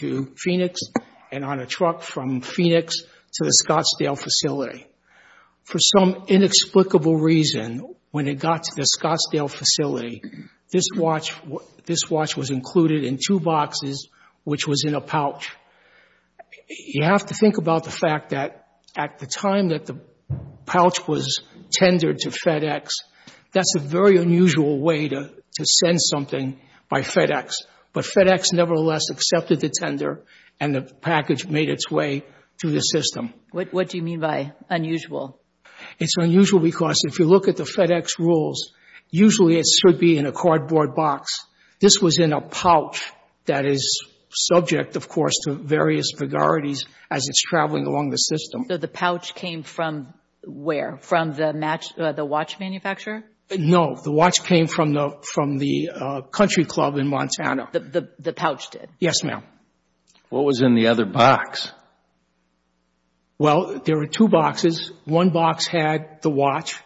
to Phoenix and on a truck from Phoenix to the Scottsdale facility. For some inexplicable reason, when it got to the Scottsdale facility, this watch was included in two boxes which was in a pouch. You have to think about the fact that at the time that the pouch was tendered to FedEx, that's a very unusual way to send something by FedEx. But FedEx nevertheless accepted the tender and the package made its way to the system. What do you mean by unusual? It's unusual because if you look at the FedEx rules, usually it should be in a cardboard box. This was in a pouch that is subject, of course, to various vigorities as it's traveling along the system. The pouch came from where? From the watch manufacturer? No. The watch came from the country club in Montana. The pouch did? Yes, ma'am. What was in the other box? Well, there were two boxes. One box had the watch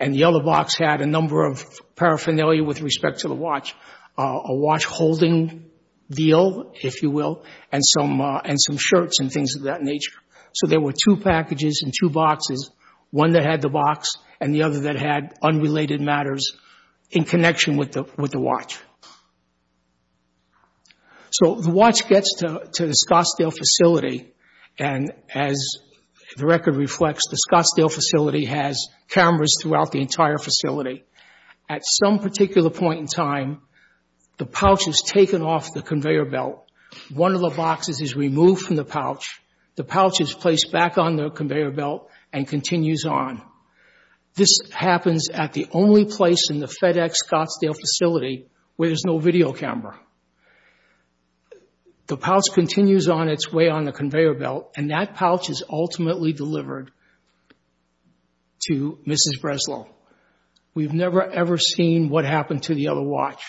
and the other box had a number of paraphernalia with respect to the watch, a watch holding deal, if you will, and some shirts and things of that nature. So there were two packages and two boxes, one that had the box and the other that had unrelated matters in connection with the watch. So the watch gets to the Scottsdale facility, and as the record reflects, the Scottsdale facility has cameras throughout the entire facility. At some particular point in time, the pouch is taken off the conveyor belt. One of the boxes is removed from the pouch. The pouch is placed back on the conveyor belt and continues on. This happens at the only place in the FedEx Scottsdale facility where there's no video camera. The pouch continues on its way on the conveyor belt, and that pouch is ultimately delivered to Mrs. Breslow. We've never ever seen what happened to the other watch.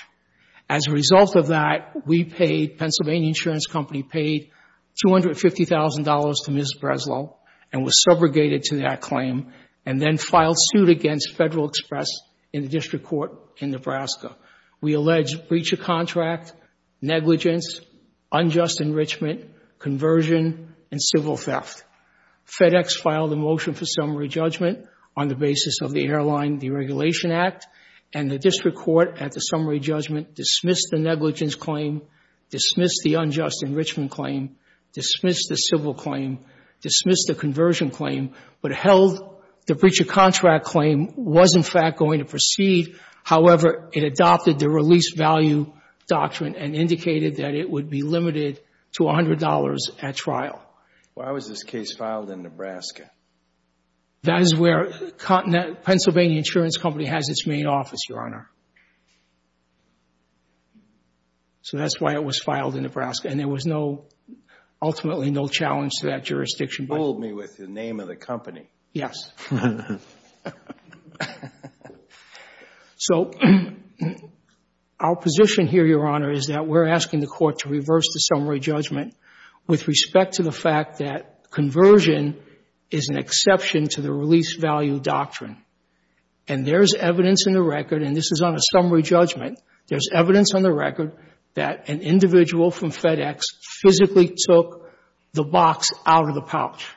As a result of that, we paid, Pennsylvania Insurance Company paid $250,000 to Mrs. Breslow and was subrogated to that claim and then filed suit against Federal Express in the district court in Nebraska. We alleged breach of contract, negligence, unjust enrichment, conversion, and civil theft. FedEx filed a motion for summary judgment on the basis of the Airline Deregulation Act, and the district court, at the summary judgment, dismissed the negligence claim, dismissed the unjust enrichment claim, dismissed the civil claim, dismissed the conversion claim, but held the breach of contract claim was, in fact, going to proceed. However, it adopted the release value doctrine and indicated that it would be limited to $100 at trial. Why was this case filed in Nebraska? That is where Pennsylvania Insurance Company has its main office, Your Honor. So that's why it was filed in Nebraska. And there was no, ultimately, no challenge to that jurisdiction. Hold me with the name of the company. Yes. So our position here, Your Honor, is that we're asking the court to reverse the summary judgment with respect to the fact that conversion is an exception to the release value doctrine. And there's evidence in the record, and this is on a summary judgment, there's evidence on the record that an individual from FedEx physically took the box out of the pouch.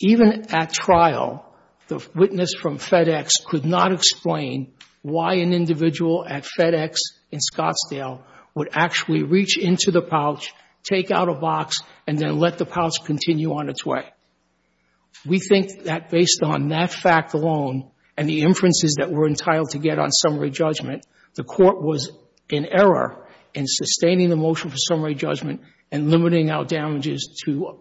Even at trial, the witness from FedEx could not explain why an individual at FedEx in Scottsdale would actually reach into the pouch, take out a box, and then let the pouch continue on its way. We think that based on that fact alone and the inferences that were entitled to get on summary judgment, the court was in error in sustaining the motion for summary judgment and limiting our damages to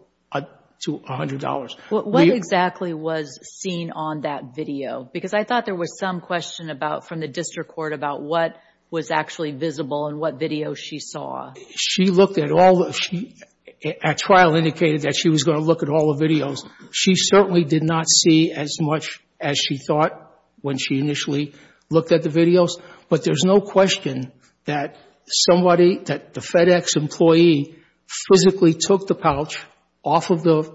$100. What exactly was seen on that video? Because I thought there was some question about, from the district court, about what was actually visible and what video she saw. She looked at all the, at trial, indicated that she was going to look at all the videos. She certainly did not see as much as she thought when she initially looked at the videos. But there's no question that somebody, that the FedEx employee physically took the pouch off of the,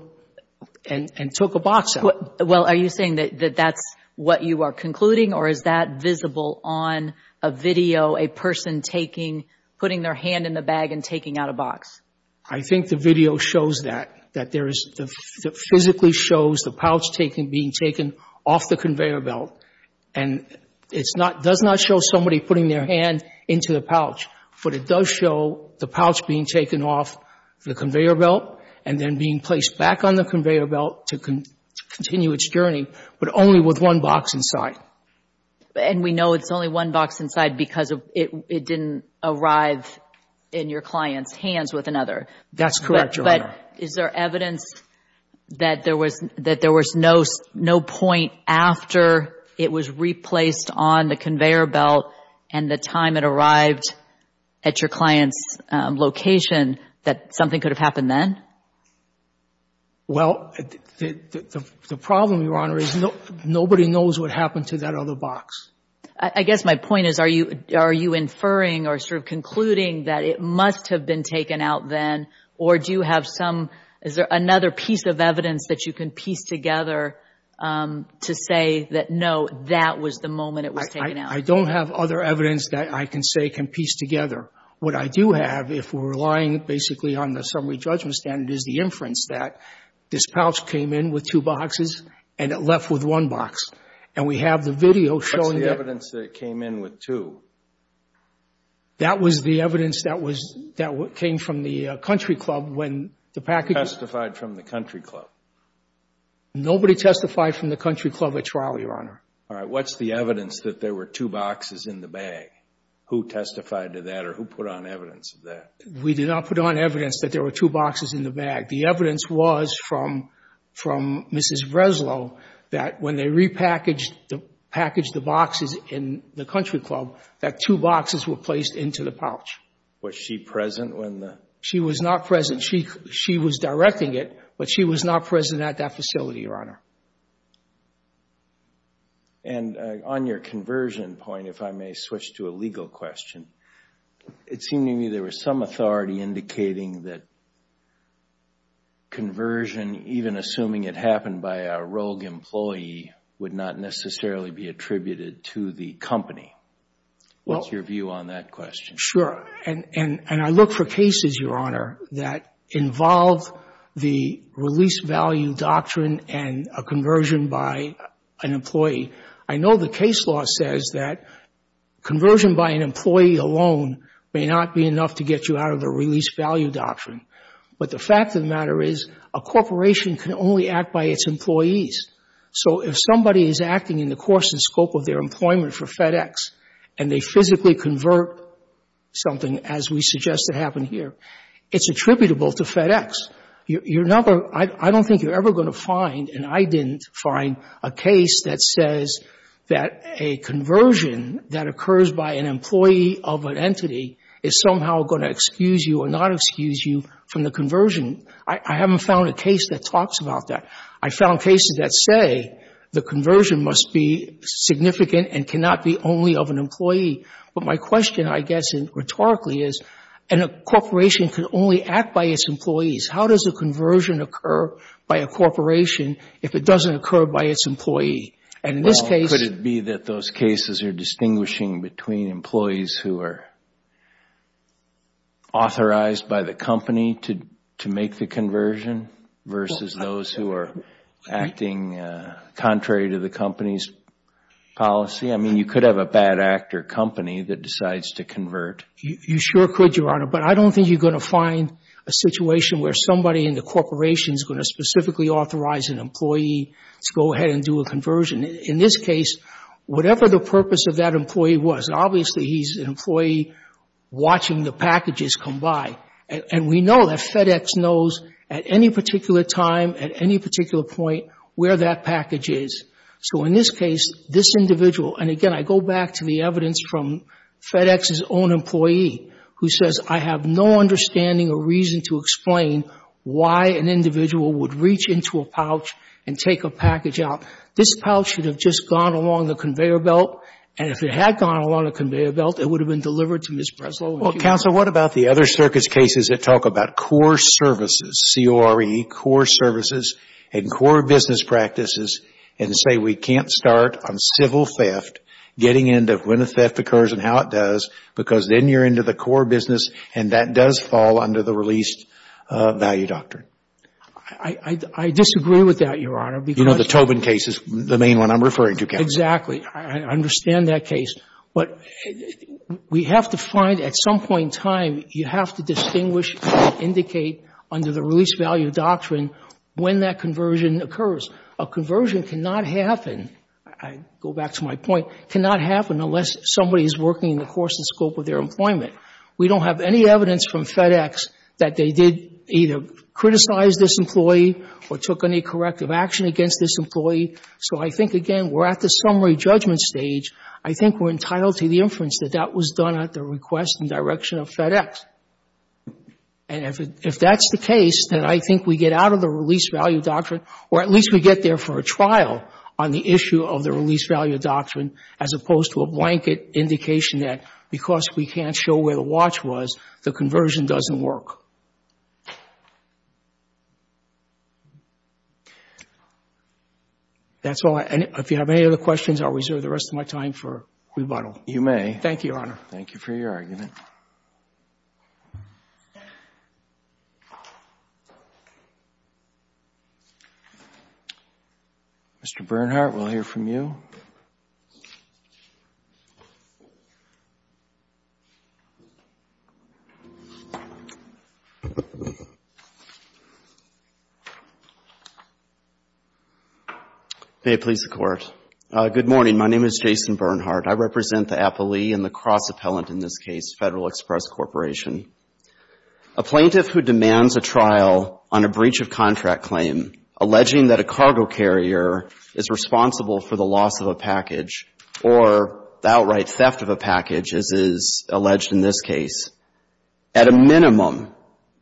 and took a box out. Well, are you saying that that's what you are concluding? Or is that visible on a video, a person taking, putting their hand in the bag and taking out a box? I think the video shows that, that there is, physically shows the pouch being taken off the conveyor belt. And it's not, does not show somebody putting their hand into the pouch. But it does show the pouch being taken off the conveyor belt and then being placed back on the conveyor belt to continue its journey, but only with one box inside. And we know it's only one box inside because it didn't arrive in your client's hands with another. That's correct, Your Honor. Is there evidence that there was, that there was no, no point after it was replaced on the conveyor belt and the time it arrived at your client's location that something could have happened then? Well, the problem, Your Honor, is nobody knows what happened to that other box. I guess my point is, are you, are you inferring or sort of concluding that it must have been taken out then? Or do you have some, is there another piece of evidence that you can piece together to say that, no, that was the moment it was taken out? I don't have other evidence that I can say can piece together. What I do have, if we're relying basically on the summary judgment standard, is the inference that this pouch came in with two boxes and it left with one box. And we have the video showing that... What's the evidence that it came in with two? That was the evidence that was, that came from the country club when the package... Who testified from the country club? Nobody testified from the country club at trial, Your Honor. All right. What's the evidence that there were two boxes in the bag? Who testified to that or who put on evidence of that? We did not put on evidence that there were two boxes in the bag. The evidence was from Mrs. Breslow that when they repackaged the boxes in the country club, that two boxes were placed into the pouch. Was she present when the... She was not present. She was directing it, but she was not present at that facility, Your Honor. And on your conversion point, if I may switch to a legal question. It seemed to me there was some authority indicating that conversion, even assuming it happened by a rogue employee, would not necessarily be attributed to the company. What's your view on that question? Sure. And I look for cases, Your Honor, that involve the release value doctrine and a conversion by an employee. I know the case law says that conversion by an employee alone may not be enough to get you out of the release value doctrine. But the fact of the matter is a corporation can only act by its employees. So if somebody is acting in the course and scope of their employment for FedEx and they physically convert something, as we suggest it happened here, it's attributable to FedEx. Your number — I don't think you're ever going to find, and I didn't find, a case that says that a conversion that occurs by an employee of an entity is somehow going to excuse you or not excuse you from the conversion. I haven't found a case that talks about that. I found cases that say the conversion must be significant and cannot be only of an employee. But my question, I guess, rhetorically is a corporation can only act by its employees. How does a conversion occur by a corporation if it doesn't occur by its employee? And in this case — Well, could it be that those cases are distinguishing between employees who are authorized by the company to make the conversion versus those who are acting contrary to the company's policy? I mean, you could have a bad actor company that decides to convert. You sure could, Your Honor. But I don't think you're going to find a situation where somebody in the corporation is going to specifically authorize an employee to go ahead and do a conversion. In this case, whatever the purpose of that employee was, obviously he's an employee watching the packages come by. And we know that FedEx knows at any particular time, at any particular point, where that package is. So in this case, this individual — and again, I go back to the evidence from FedEx's own employee who says, I have no understanding or reason to explain why an individual would reach into a pouch and take a package out. This pouch should have just gone along the conveyor belt. And if it had gone along the conveyor belt, it would have been delivered to Ms. Breslow. Well, Counsel, what about the other circus cases that talk about core services, C-O-R-E, core services and core business practices and say we can't start on civil theft, getting into when a theft occurs and how it does, because then you're into the core business and that does fall under the released value doctrine? I disagree with that, Your Honor. You know, the Tobin case is the main one I'm referring to, Counsel. Exactly. I understand that case. But we have to find, at some point in time, you have to distinguish and indicate under the released value doctrine when that conversion occurs. A conversion cannot happen — I go back to my point — cannot happen unless somebody is working in the course and scope of their employment. We don't have any evidence from FedEx that they did either criticize this employee or took any corrective action against this employee. So I think, again, we're at the summary judgment stage. I think we're entitled to the inference that that was done at the request and direction of FedEx. And if that's the case, then I think we get out of the released value doctrine or at least we get there for a trial on the issue of the released value doctrine as opposed to a blanket indication that because we can't show where the watch was, the conversion doesn't work. That's all. If you have any other questions, I'll reserve the rest of my time for rebuttal. You may. Thank you, Your Honor. Thank you for your argument. Mr. Bernhardt, we'll hear from you. May it please the Court. Good morning. My name is Jason Bernhardt. I represent the appellee and the cross-appellant in this case, Federal Express Corporation. A plaintiff who demands a trial on a breach of contract claim, alleging that a cargo carrier is responsible for the loss of a package or the outright theft of a package, as is alleged in this case, at a minimum,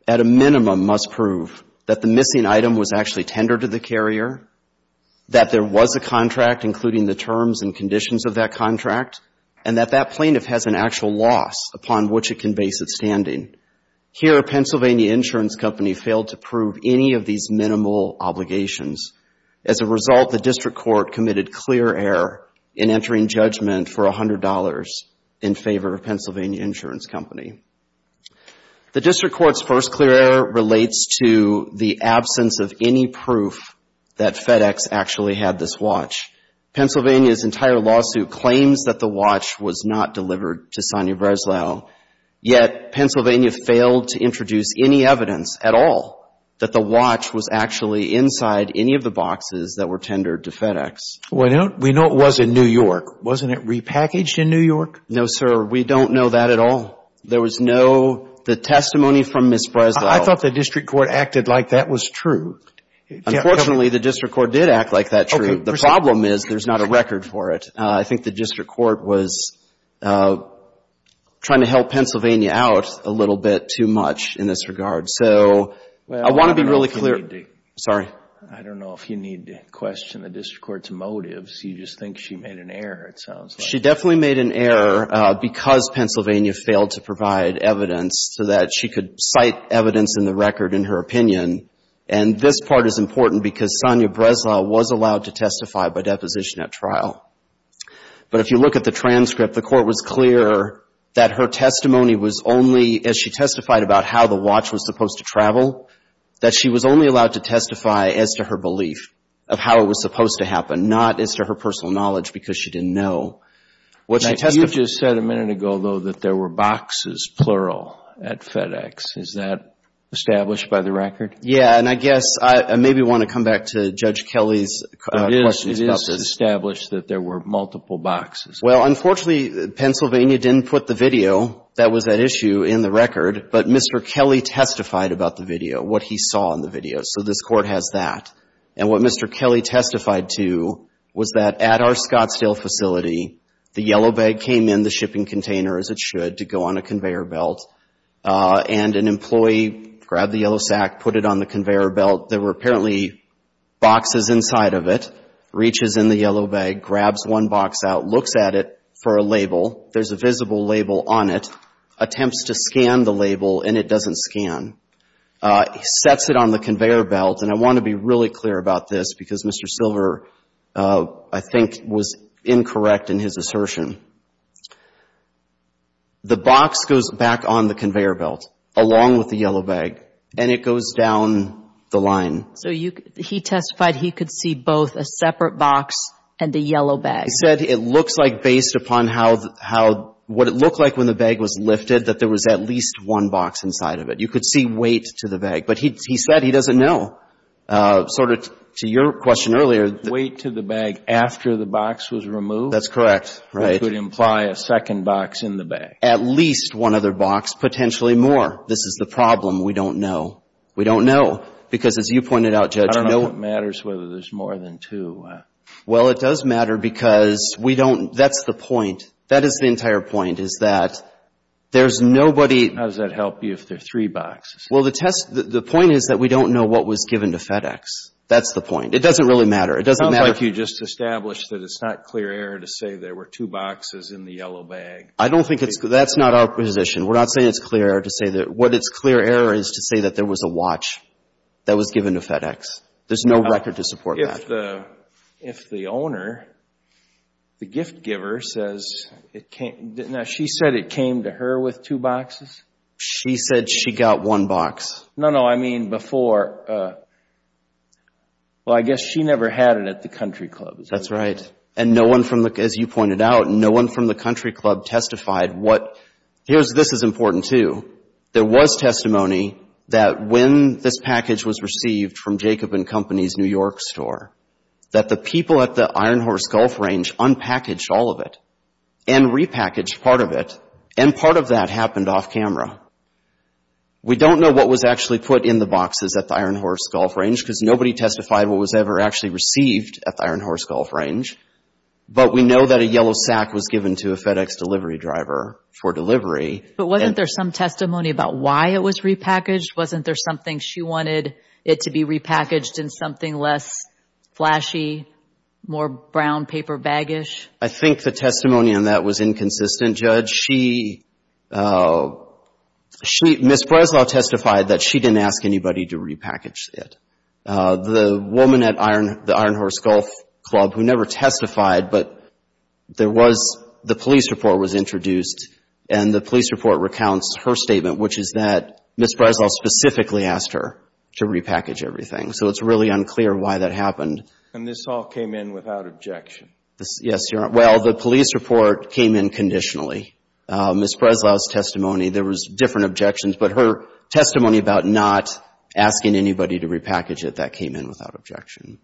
at a minimum must prove that the missing item was actually tendered to the carrier, that there was a contract, including the terms and conditions of that contract, and that that plaintiff has an actual loss upon which it can base its standing. Here, a Pennsylvania insurance company failed to prove any of these minimal obligations. As a result, the district court committed clear error in entering judgment for $100 in favor of a Pennsylvania insurance company. The district court's first clear error relates to the absence of any proof that FedEx actually had this watch. Pennsylvania's entire lawsuit claims that the watch was not delivered to Sonny Breslau, yet Pennsylvania failed to introduce any evidence at all that the watch was actually inside any of the boxes that were tendered to FedEx. Well, we know it was in New York. Wasn't it repackaged in New York? No, sir. We don't know that at all. There was no testimony from Ms. Breslau. I thought the district court acted like that was true. Unfortunately, the district court did act like that was true. The problem is there's not a record for it. I think the district court was trying to help Pennsylvania out a little bit too much in this regard. So I want to be really clear. Sorry? I don't know if you need to question the district court's motives. You just think she made an error, it sounds like. She definitely made an error because Pennsylvania failed to provide evidence so that she could cite evidence in the record in her opinion. And this part is important because Sonia Breslau was allowed to testify by deposition at trial. But if you look at the transcript, the court was clear that her testimony was only, as she testified about how the watch was supposed to travel, that she was only allowed to testify as to her belief of how it was supposed to happen, not as to her personal knowledge because she didn't know. You just said a minute ago, though, that there were boxes, plural, at FedEx. Is that established by the record? Yeah, and I guess I maybe want to come back to Judge Kelly's question. It is established that there were multiple boxes. Well, unfortunately, Pennsylvania didn't put the video that was at issue in the record, but Mr. Kelly testified about the video, what he saw in the video. So this Court has that. And what Mr. Kelly testified to was that at our Scottsdale facility, the yellow bag came in the shipping container as it should to go on a conveyor belt, and an employee grabbed the yellow sack, put it on the conveyor belt. There were apparently boxes inside of it. Reaches in the yellow bag, grabs one box out, looks at it for a label. There's a visible label on it. Attempts to scan the label, and it doesn't scan. Sets it on the conveyor belt, and I want to be really clear about this because Mr. Silver, I think, was incorrect in his assertion. The box goes back on the conveyor belt along with the yellow bag, and it goes down the line. So he testified he could see both a separate box and a yellow bag. He said it looks like based upon what it looked like when the bag was lifted, that there was at least one box inside of it. You could see weight to the bag, but he said he doesn't know. Sort of to your question earlier. Weight to the bag after the box was removed? That's correct. That would imply a second box in the bag. At least one other box, potentially more. This is the problem. We don't know. We don't know because, as you pointed out, Judge. I don't know what matters whether there's more than two. Well, it does matter because we don't – that's the point. That is the entire point is that there's nobody – How does that help you if there are three boxes? Well, the point is that we don't know what was given to FedEx. That's the point. It doesn't really matter. It sounds like you just established that it's not clear error to say there were two boxes in the yellow bag. I don't think it's – that's not our position. We're not saying it's clear error to say that – what it's clear error is to say that there was a watch that was given to FedEx. There's no record to support that. If the owner, the gift giver, says it came – now, she said it came to her with two boxes? She said she got one box. No, no. I mean, before – well, I guess she never had it at the country club. That's right. And no one from the – as you pointed out, no one from the country club testified what – this is important, too. There was testimony that when this package was received from Jacob & Company's New York store, that the people at the Iron Horse Golf Range unpackaged all of it and repackaged part of it, and part of that happened off camera. We don't know what was actually put in the boxes at the Iron Horse Golf Range because nobody testified what was ever actually received at the Iron Horse Golf Range. But we know that a yellow sack was given to a FedEx delivery driver for delivery. But wasn't there some testimony about why it was repackaged? Wasn't there something she wanted it to be repackaged in something less flashy, more brown paper baggish? I think the testimony on that was inconsistent, Judge. She – Ms. Breslau testified that she didn't ask anybody to repackage it. The woman at the Iron Horse Golf Club who never testified, but there was – the police report was introduced, and the police report recounts her statement, which is that Ms. Breslau specifically asked her to repackage everything. So it's really unclear why that happened. And this all came in without objection? Yes. Well, the police report came in conditionally. Ms. Breslau's testimony, there was different objections, but her testimony about not asking anybody to repackage it, that came in without objection.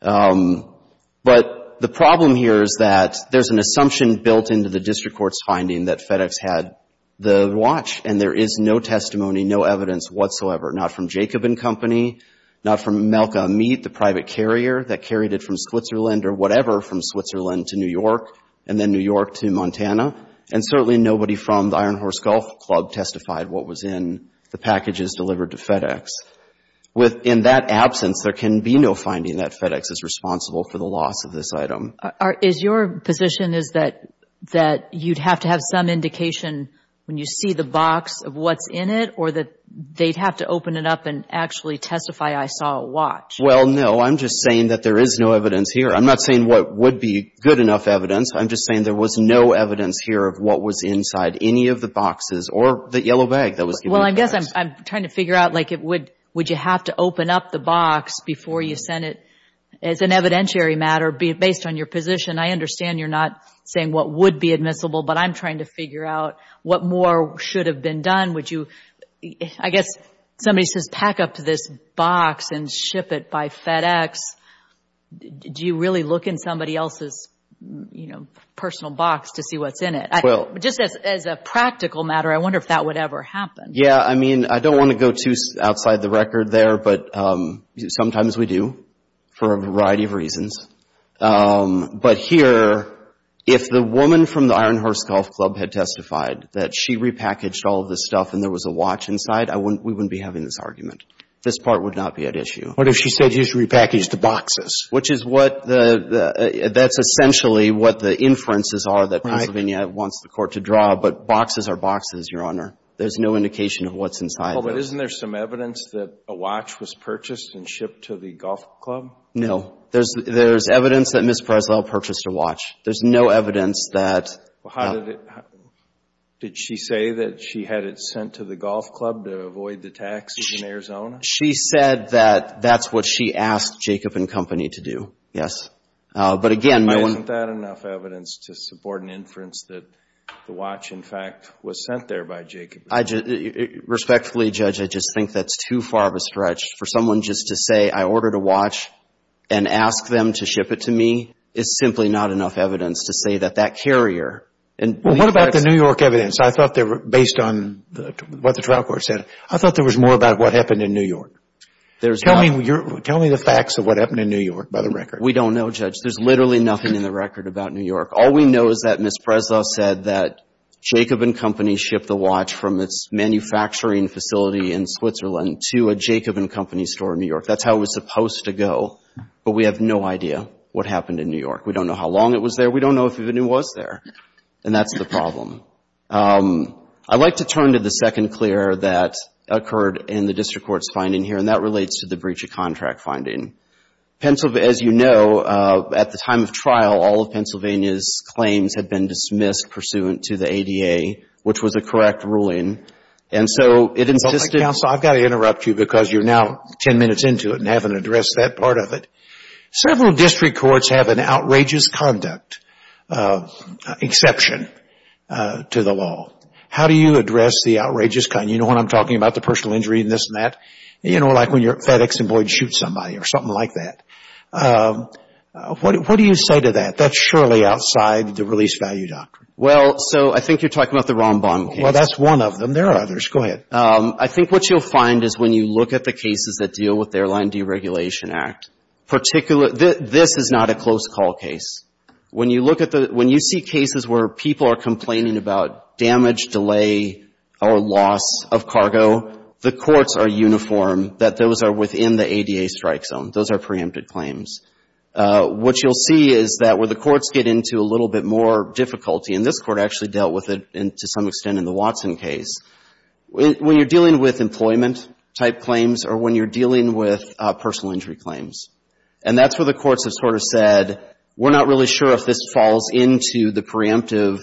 But the problem here is that there's an assumption built into the district court's finding that FedEx had the watch, and there is no testimony, no evidence whatsoever, not from Jacob & Company, not from Melka Meat, the private carrier that carried it from Switzerland or whatever, from Switzerland to New York and then New York to Montana. And certainly nobody from the Iron Horse Golf Club testified what was in the packages delivered to FedEx. In that absence, there can be no finding that FedEx is responsible for the loss of this item. Is your position is that you'd have to have some indication when you see the box of what's in it or that they'd have to open it up and actually testify, I saw a watch? Well, no. I'm just saying that there is no evidence here. I'm not saying what would be good enough evidence. I'm just saying there was no evidence here of what was inside any of the boxes or the yellow bag that was given to FedEx. Well, I guess I'm trying to figure out, like, would you have to open up the box before you send it as an evidentiary matter based on your position? I understand you're not saying what would be admissible, but I'm trying to figure out what more should have been done. I guess somebody says pack up this box and ship it by FedEx. Do you really look in somebody else's, you know, personal box to see what's in it? Just as a practical matter, I wonder if that would ever happen. Yeah, I mean, I don't want to go too outside the record there, but sometimes we do for a variety of reasons. But here, if the woman from the Iron Horse Golf Club had testified that she repackaged all of this stuff and there was a watch inside, we wouldn't be having this argument. This part would not be at issue. What if she said you just repackaged the boxes? Which is what the – that's essentially what the inferences are that Pennsylvania wants the Court to draw, but boxes are boxes, Your Honor. There's no indication of what's inside. Well, but isn't there some evidence that a watch was purchased and shipped to the golf club? No. There's evidence that Ms. Preslow purchased a watch. There's no evidence that – Did she say that she had it sent to the golf club to avoid the taxes in Arizona? She said that that's what she asked Jacob & Company to do, yes. But again, my one – Isn't that enough evidence to support an inference that the watch, in fact, was sent there by Jacob & Company? Respectfully, Judge, I just think that's too far of a stretch. For someone just to say I ordered a watch and ask them to ship it to me is simply not enough evidence to say that that carrier – Well, what about the New York evidence? I thought they were – based on what the trial court said, I thought there was more about what happened in New York. There's not. Tell me the facts of what happened in New York by the record. We don't know, Judge. There's literally nothing in the record about New York. All we know is that Ms. Preslow said that Jacob & Company shipped the watch from its manufacturing facility in Switzerland to a Jacob & Company store in New York. That's how it was supposed to go. But we have no idea what happened in New York. We don't know how long it was there. We don't know if it even was there. And that's the problem. I'd like to turn to the second clear that occurred in the district court's finding here, and that relates to the breach of contract finding. As you know, at the time of trial, all of Pennsylvania's claims had been dismissed pursuant to the ADA, which was a correct ruling. And so it insisted – several district courts have an outrageous conduct exception to the law. How do you address the outrageous conduct? You know what I'm talking about, the personal injury and this and that? You know, like when your FedEx employee shoots somebody or something like that. What do you say to that? That's surely outside the release value doctrine. Well, so I think you're talking about the Rombaum case. Well, that's one of them. There are others. Go ahead. Okay. I think what you'll find is when you look at the cases that deal with the Airline Deregulation Act, this is not a close call case. When you look at the – when you see cases where people are complaining about damage, delay, or loss of cargo, the courts are uniform that those are within the ADA strike zone. Those are preempted claims. What you'll see is that when the courts get into a little bit more difficulty, and this court actually dealt with it to some extent in the Watson case, when you're dealing with employment-type claims or when you're dealing with personal injury claims, and that's where the courts have sort of said, we're not really sure if this falls into the preemptive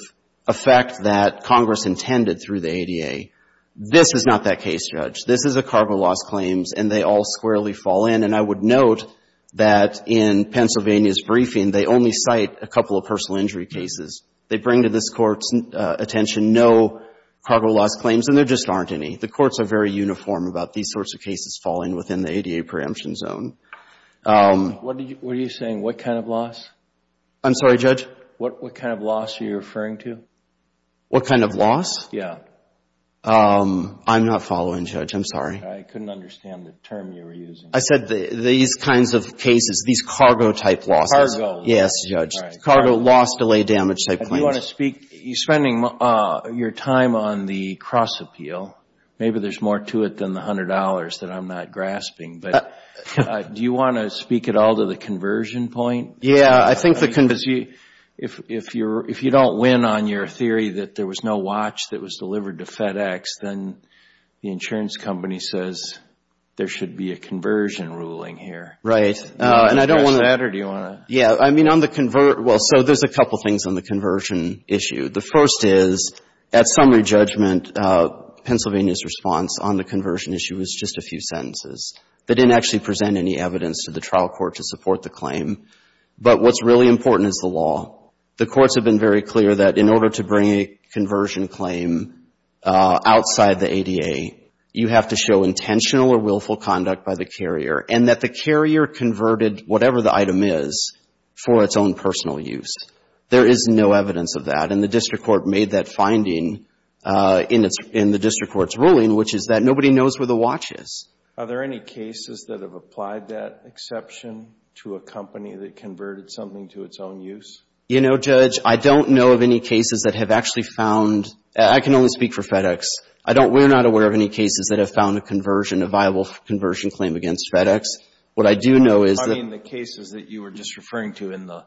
effect that Congress intended through the ADA. This is not that case, Judge. This is a cargo loss claims, and they all squarely fall in. And I would note that in Pennsylvania's briefing, they only cite a couple of personal injury cases. They bring to this court's attention no cargo loss claims, and there just aren't any. The courts are very uniform about these sorts of cases falling within the ADA preemption zone. What are you saying? What kind of loss? I'm sorry, Judge? What kind of loss are you referring to? What kind of loss? Yeah. I'm not following, Judge. I'm sorry. I couldn't understand the term you were using. I said these kinds of cases, these cargo-type losses. Cargo. Yes, Judge. Cargo loss, delay, damage type claims. Do you want to speak? You're spending your time on the cross-appeal. Maybe there's more to it than the $100 that I'm not grasping. But do you want to speak at all to the conversion point? Yeah. I think the conversion. If you don't win on your theory that there was no watch that was delivered to FedEx, then the insurance company says there should be a conversion ruling here. Right. Do you want to address that, or do you want to? Yeah. I mean, on the convert. Well, so there's a couple things on the conversion issue. The first is, at summary judgment, Pennsylvania's response on the conversion issue was just a few sentences. They didn't actually present any evidence to the trial court to support the claim. But what's really important is the law. The courts have been very clear that in order to bring a conversion claim outside the ADA, you have to show intentional or willful conduct by the carrier, and that the carrier converted whatever the item is for its own personal use. There is no evidence of that, and the district court made that finding in the district court's ruling, which is that nobody knows where the watch is. Are there any cases that have applied that exception to a company that converted something to its own use? You know, Judge, I don't know of any cases that have actually found. I can only speak for FedEx. We're not aware of any cases that have found a conversion, a viable conversion claim against FedEx. What I do know is that— I mean the cases that you were just referring to in the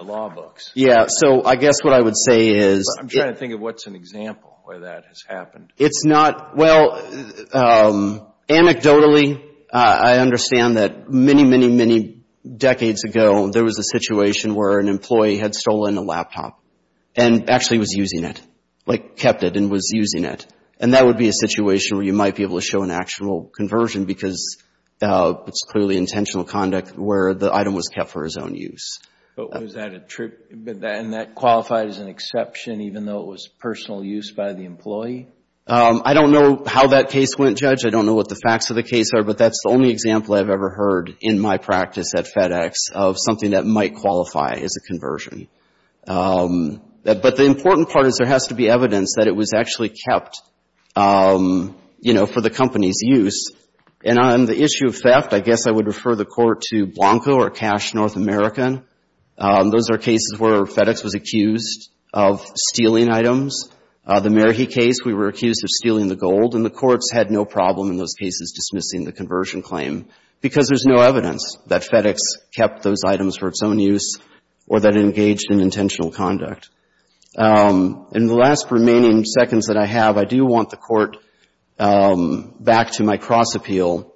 law books. Yeah, so I guess what I would say is— I'm trying to think of what's an example where that has happened. It's not—well, anecdotally, I understand that many, many, many decades ago, there was a situation where an employee had stolen a laptop and actually was using it, like kept it and was using it. And that would be a situation where you might be able to show an actual conversion because it's clearly intentional conduct where the item was kept for its own use. But was that a true—and that qualified as an exception even though it was personal use by the employee? I don't know how that case went, Judge. I don't know what the facts of the case are, but that's the only example I've ever heard in my practice at FedEx of something that might qualify as a conversion. But the important part is there has to be evidence that it was actually kept, you know, for the company's use. And on the issue of theft, I guess I would refer the Court to Blanco or Cash North American. Those are cases where FedEx was accused of stealing items. The Merhi case, we were accused of stealing the gold, and the courts had no problem in those cases dismissing the conversion claim because there's no evidence that FedEx kept those items for its own use or that it engaged in intentional conduct. In the last remaining seconds that I have, I do want the Court back to my cross-appeal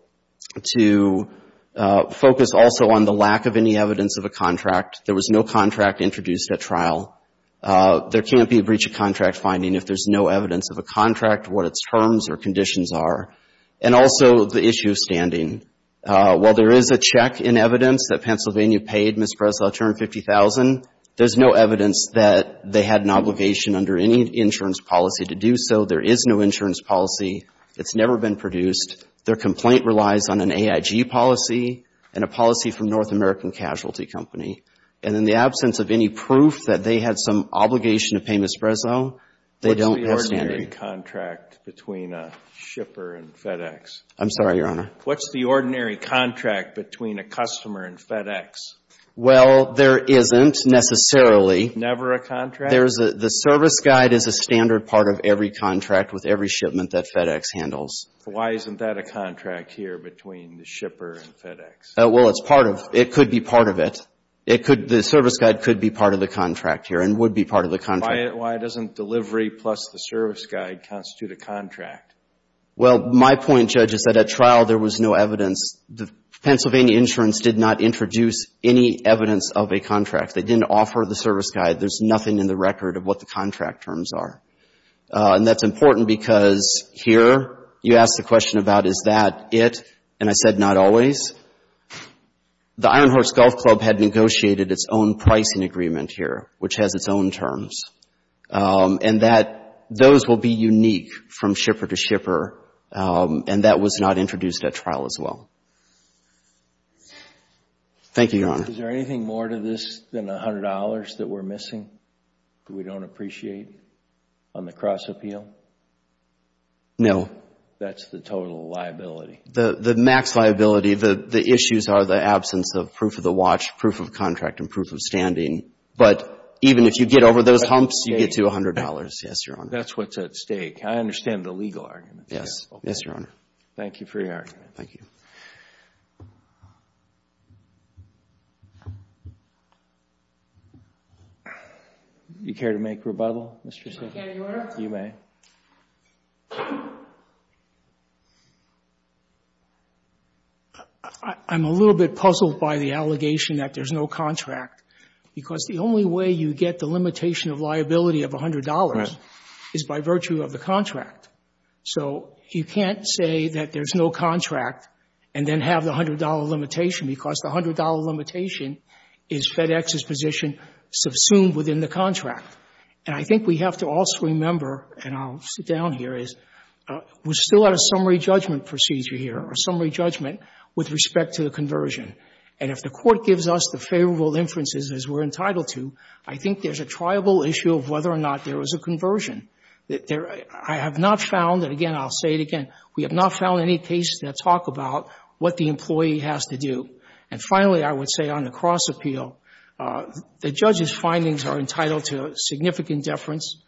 to focus also on the lack of any evidence of a contract. There was no contract introduced at trial. There can't be a breach of contract finding if there's no evidence of a contract, what its terms or conditions are, and also the issue of standing. While there is a check in evidence that Pennsylvania paid Ms. Breslow a term of $50,000, there's no evidence that they had an obligation under any insurance policy to do so. There is no insurance policy. It's never been produced. Their complaint relies on an AIG policy and a policy from North American Casualty Company. And in the absence of any proof that they had some obligation to pay Ms. Breslow, they don't have standing. What's the ordinary contract between a shipper and FedEx? I'm sorry, Your Honor. What's the ordinary contract between a customer and FedEx? Well, there isn't necessarily. Never a contract? The service guide is a standard part of every contract with every shipment that FedEx handles. Why isn't that a contract here between the shipper and FedEx? Well, it's part of it. It could be part of it. The service guide could be part of the contract here and would be part of the contract. Why doesn't delivery plus the service guide constitute a contract? Well, my point, Judge, is that at trial there was no evidence. The Pennsylvania insurance did not introduce any evidence of a contract. They didn't offer the service guide. There's nothing in the record of what the contract terms are. And that's important because here you ask the question about is that it, and I said not always. The Iron Horse Golf Club had negotiated its own pricing agreement here, which has its own terms, and that those will be unique from shipper to shipper, and that was not introduced at trial as well. Thank you, Your Honor. Is there anything more to this than $100 that we're missing, that we don't appreciate on the cross-appeal? No. That's the total liability. The max liability, the issues are the absence of proof of the watch, proof of contract, and proof of standing. But even if you get over those humps, you get to $100. Yes, Your Honor. That's what's at stake. I understand the legal argument. Yes. Yes, Your Honor. Thank you for your argument. Thank you. Do you care to make rebuttal, Mr. Smith? Can I get an order? You may. I'm a little bit puzzled by the allegation that there's no contract because the only way you get the limitation of liability of $100 is by virtue of the contract. So you can't say that there's no contract and then have the $100 limitation because the $100 limitation is FedEx's position subsumed within the contract. And I think we have to also remember, and I'll sit down here, is we're still at a summary judgment procedure here, a summary judgment with respect to the conversion. And if the Court gives us the favorable inferences as we're entitled to, I think there's a triable issue of whether or not there was a conversion. I have not found, and again, I'll say it again, we have not found any cases that talk about what the employee has to do. And finally, I would say on the cross appeal, the judge's findings are entitled to significant deference.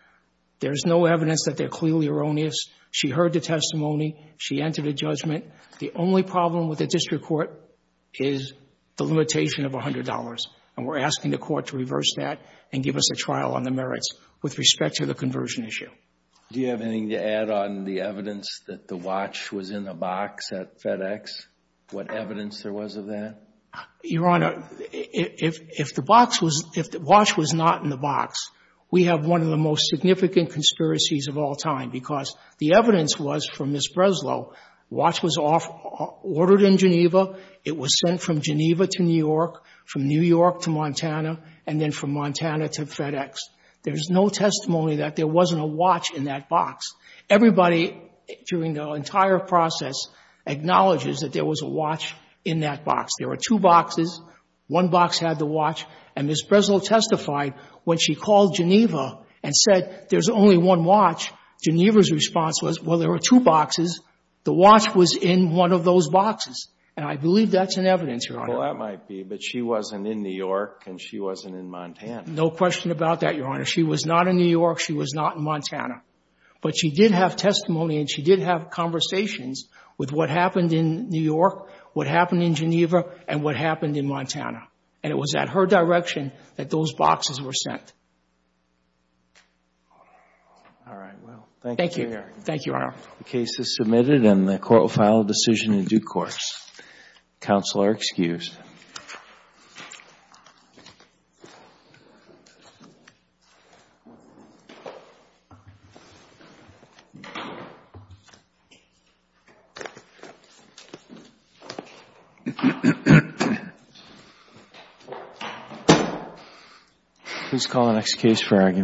There's no evidence that they're clearly erroneous. She heard the testimony. She entered a judgment. The only problem with the district court is the limitation of $100. And we're asking the Court to reverse that and give us a trial on the merits with respect to the conversion issue. Do you have anything to add on the evidence that the watch was in the box at FedEx? What evidence there was of that? Your Honor, if the watch was not in the box, we have one of the most significant conspiracies of all time because the evidence was from Ms. Breslow. The watch was ordered in Geneva. It was sent from Geneva to New York, from New York to Montana, and then from Montana to FedEx. There's no testimony that there wasn't a watch in that box. Everybody during the entire process acknowledges that there was a watch in that box. There were two boxes. One box had the watch, and Ms. Breslow testified when she called Geneva and said, there's only one watch. Geneva's response was, well, there were two boxes. The watch was in one of those boxes. And I believe that's in evidence, Your Honor. Well, that might be, but she wasn't in New York and she wasn't in Montana. No question about that, Your Honor. She was not in New York. She was not in Montana. But she did have testimony and she did have conversations with what happened in New York, what happened in Geneva, and what happened in Montana. And it was at her direction that those boxes were sent. All right. Well, thank you, Your Honor. Thank you, Your Honor. The case is submitted and the court will file a decision in due course. Counsel are excused. Please call the next case for argument.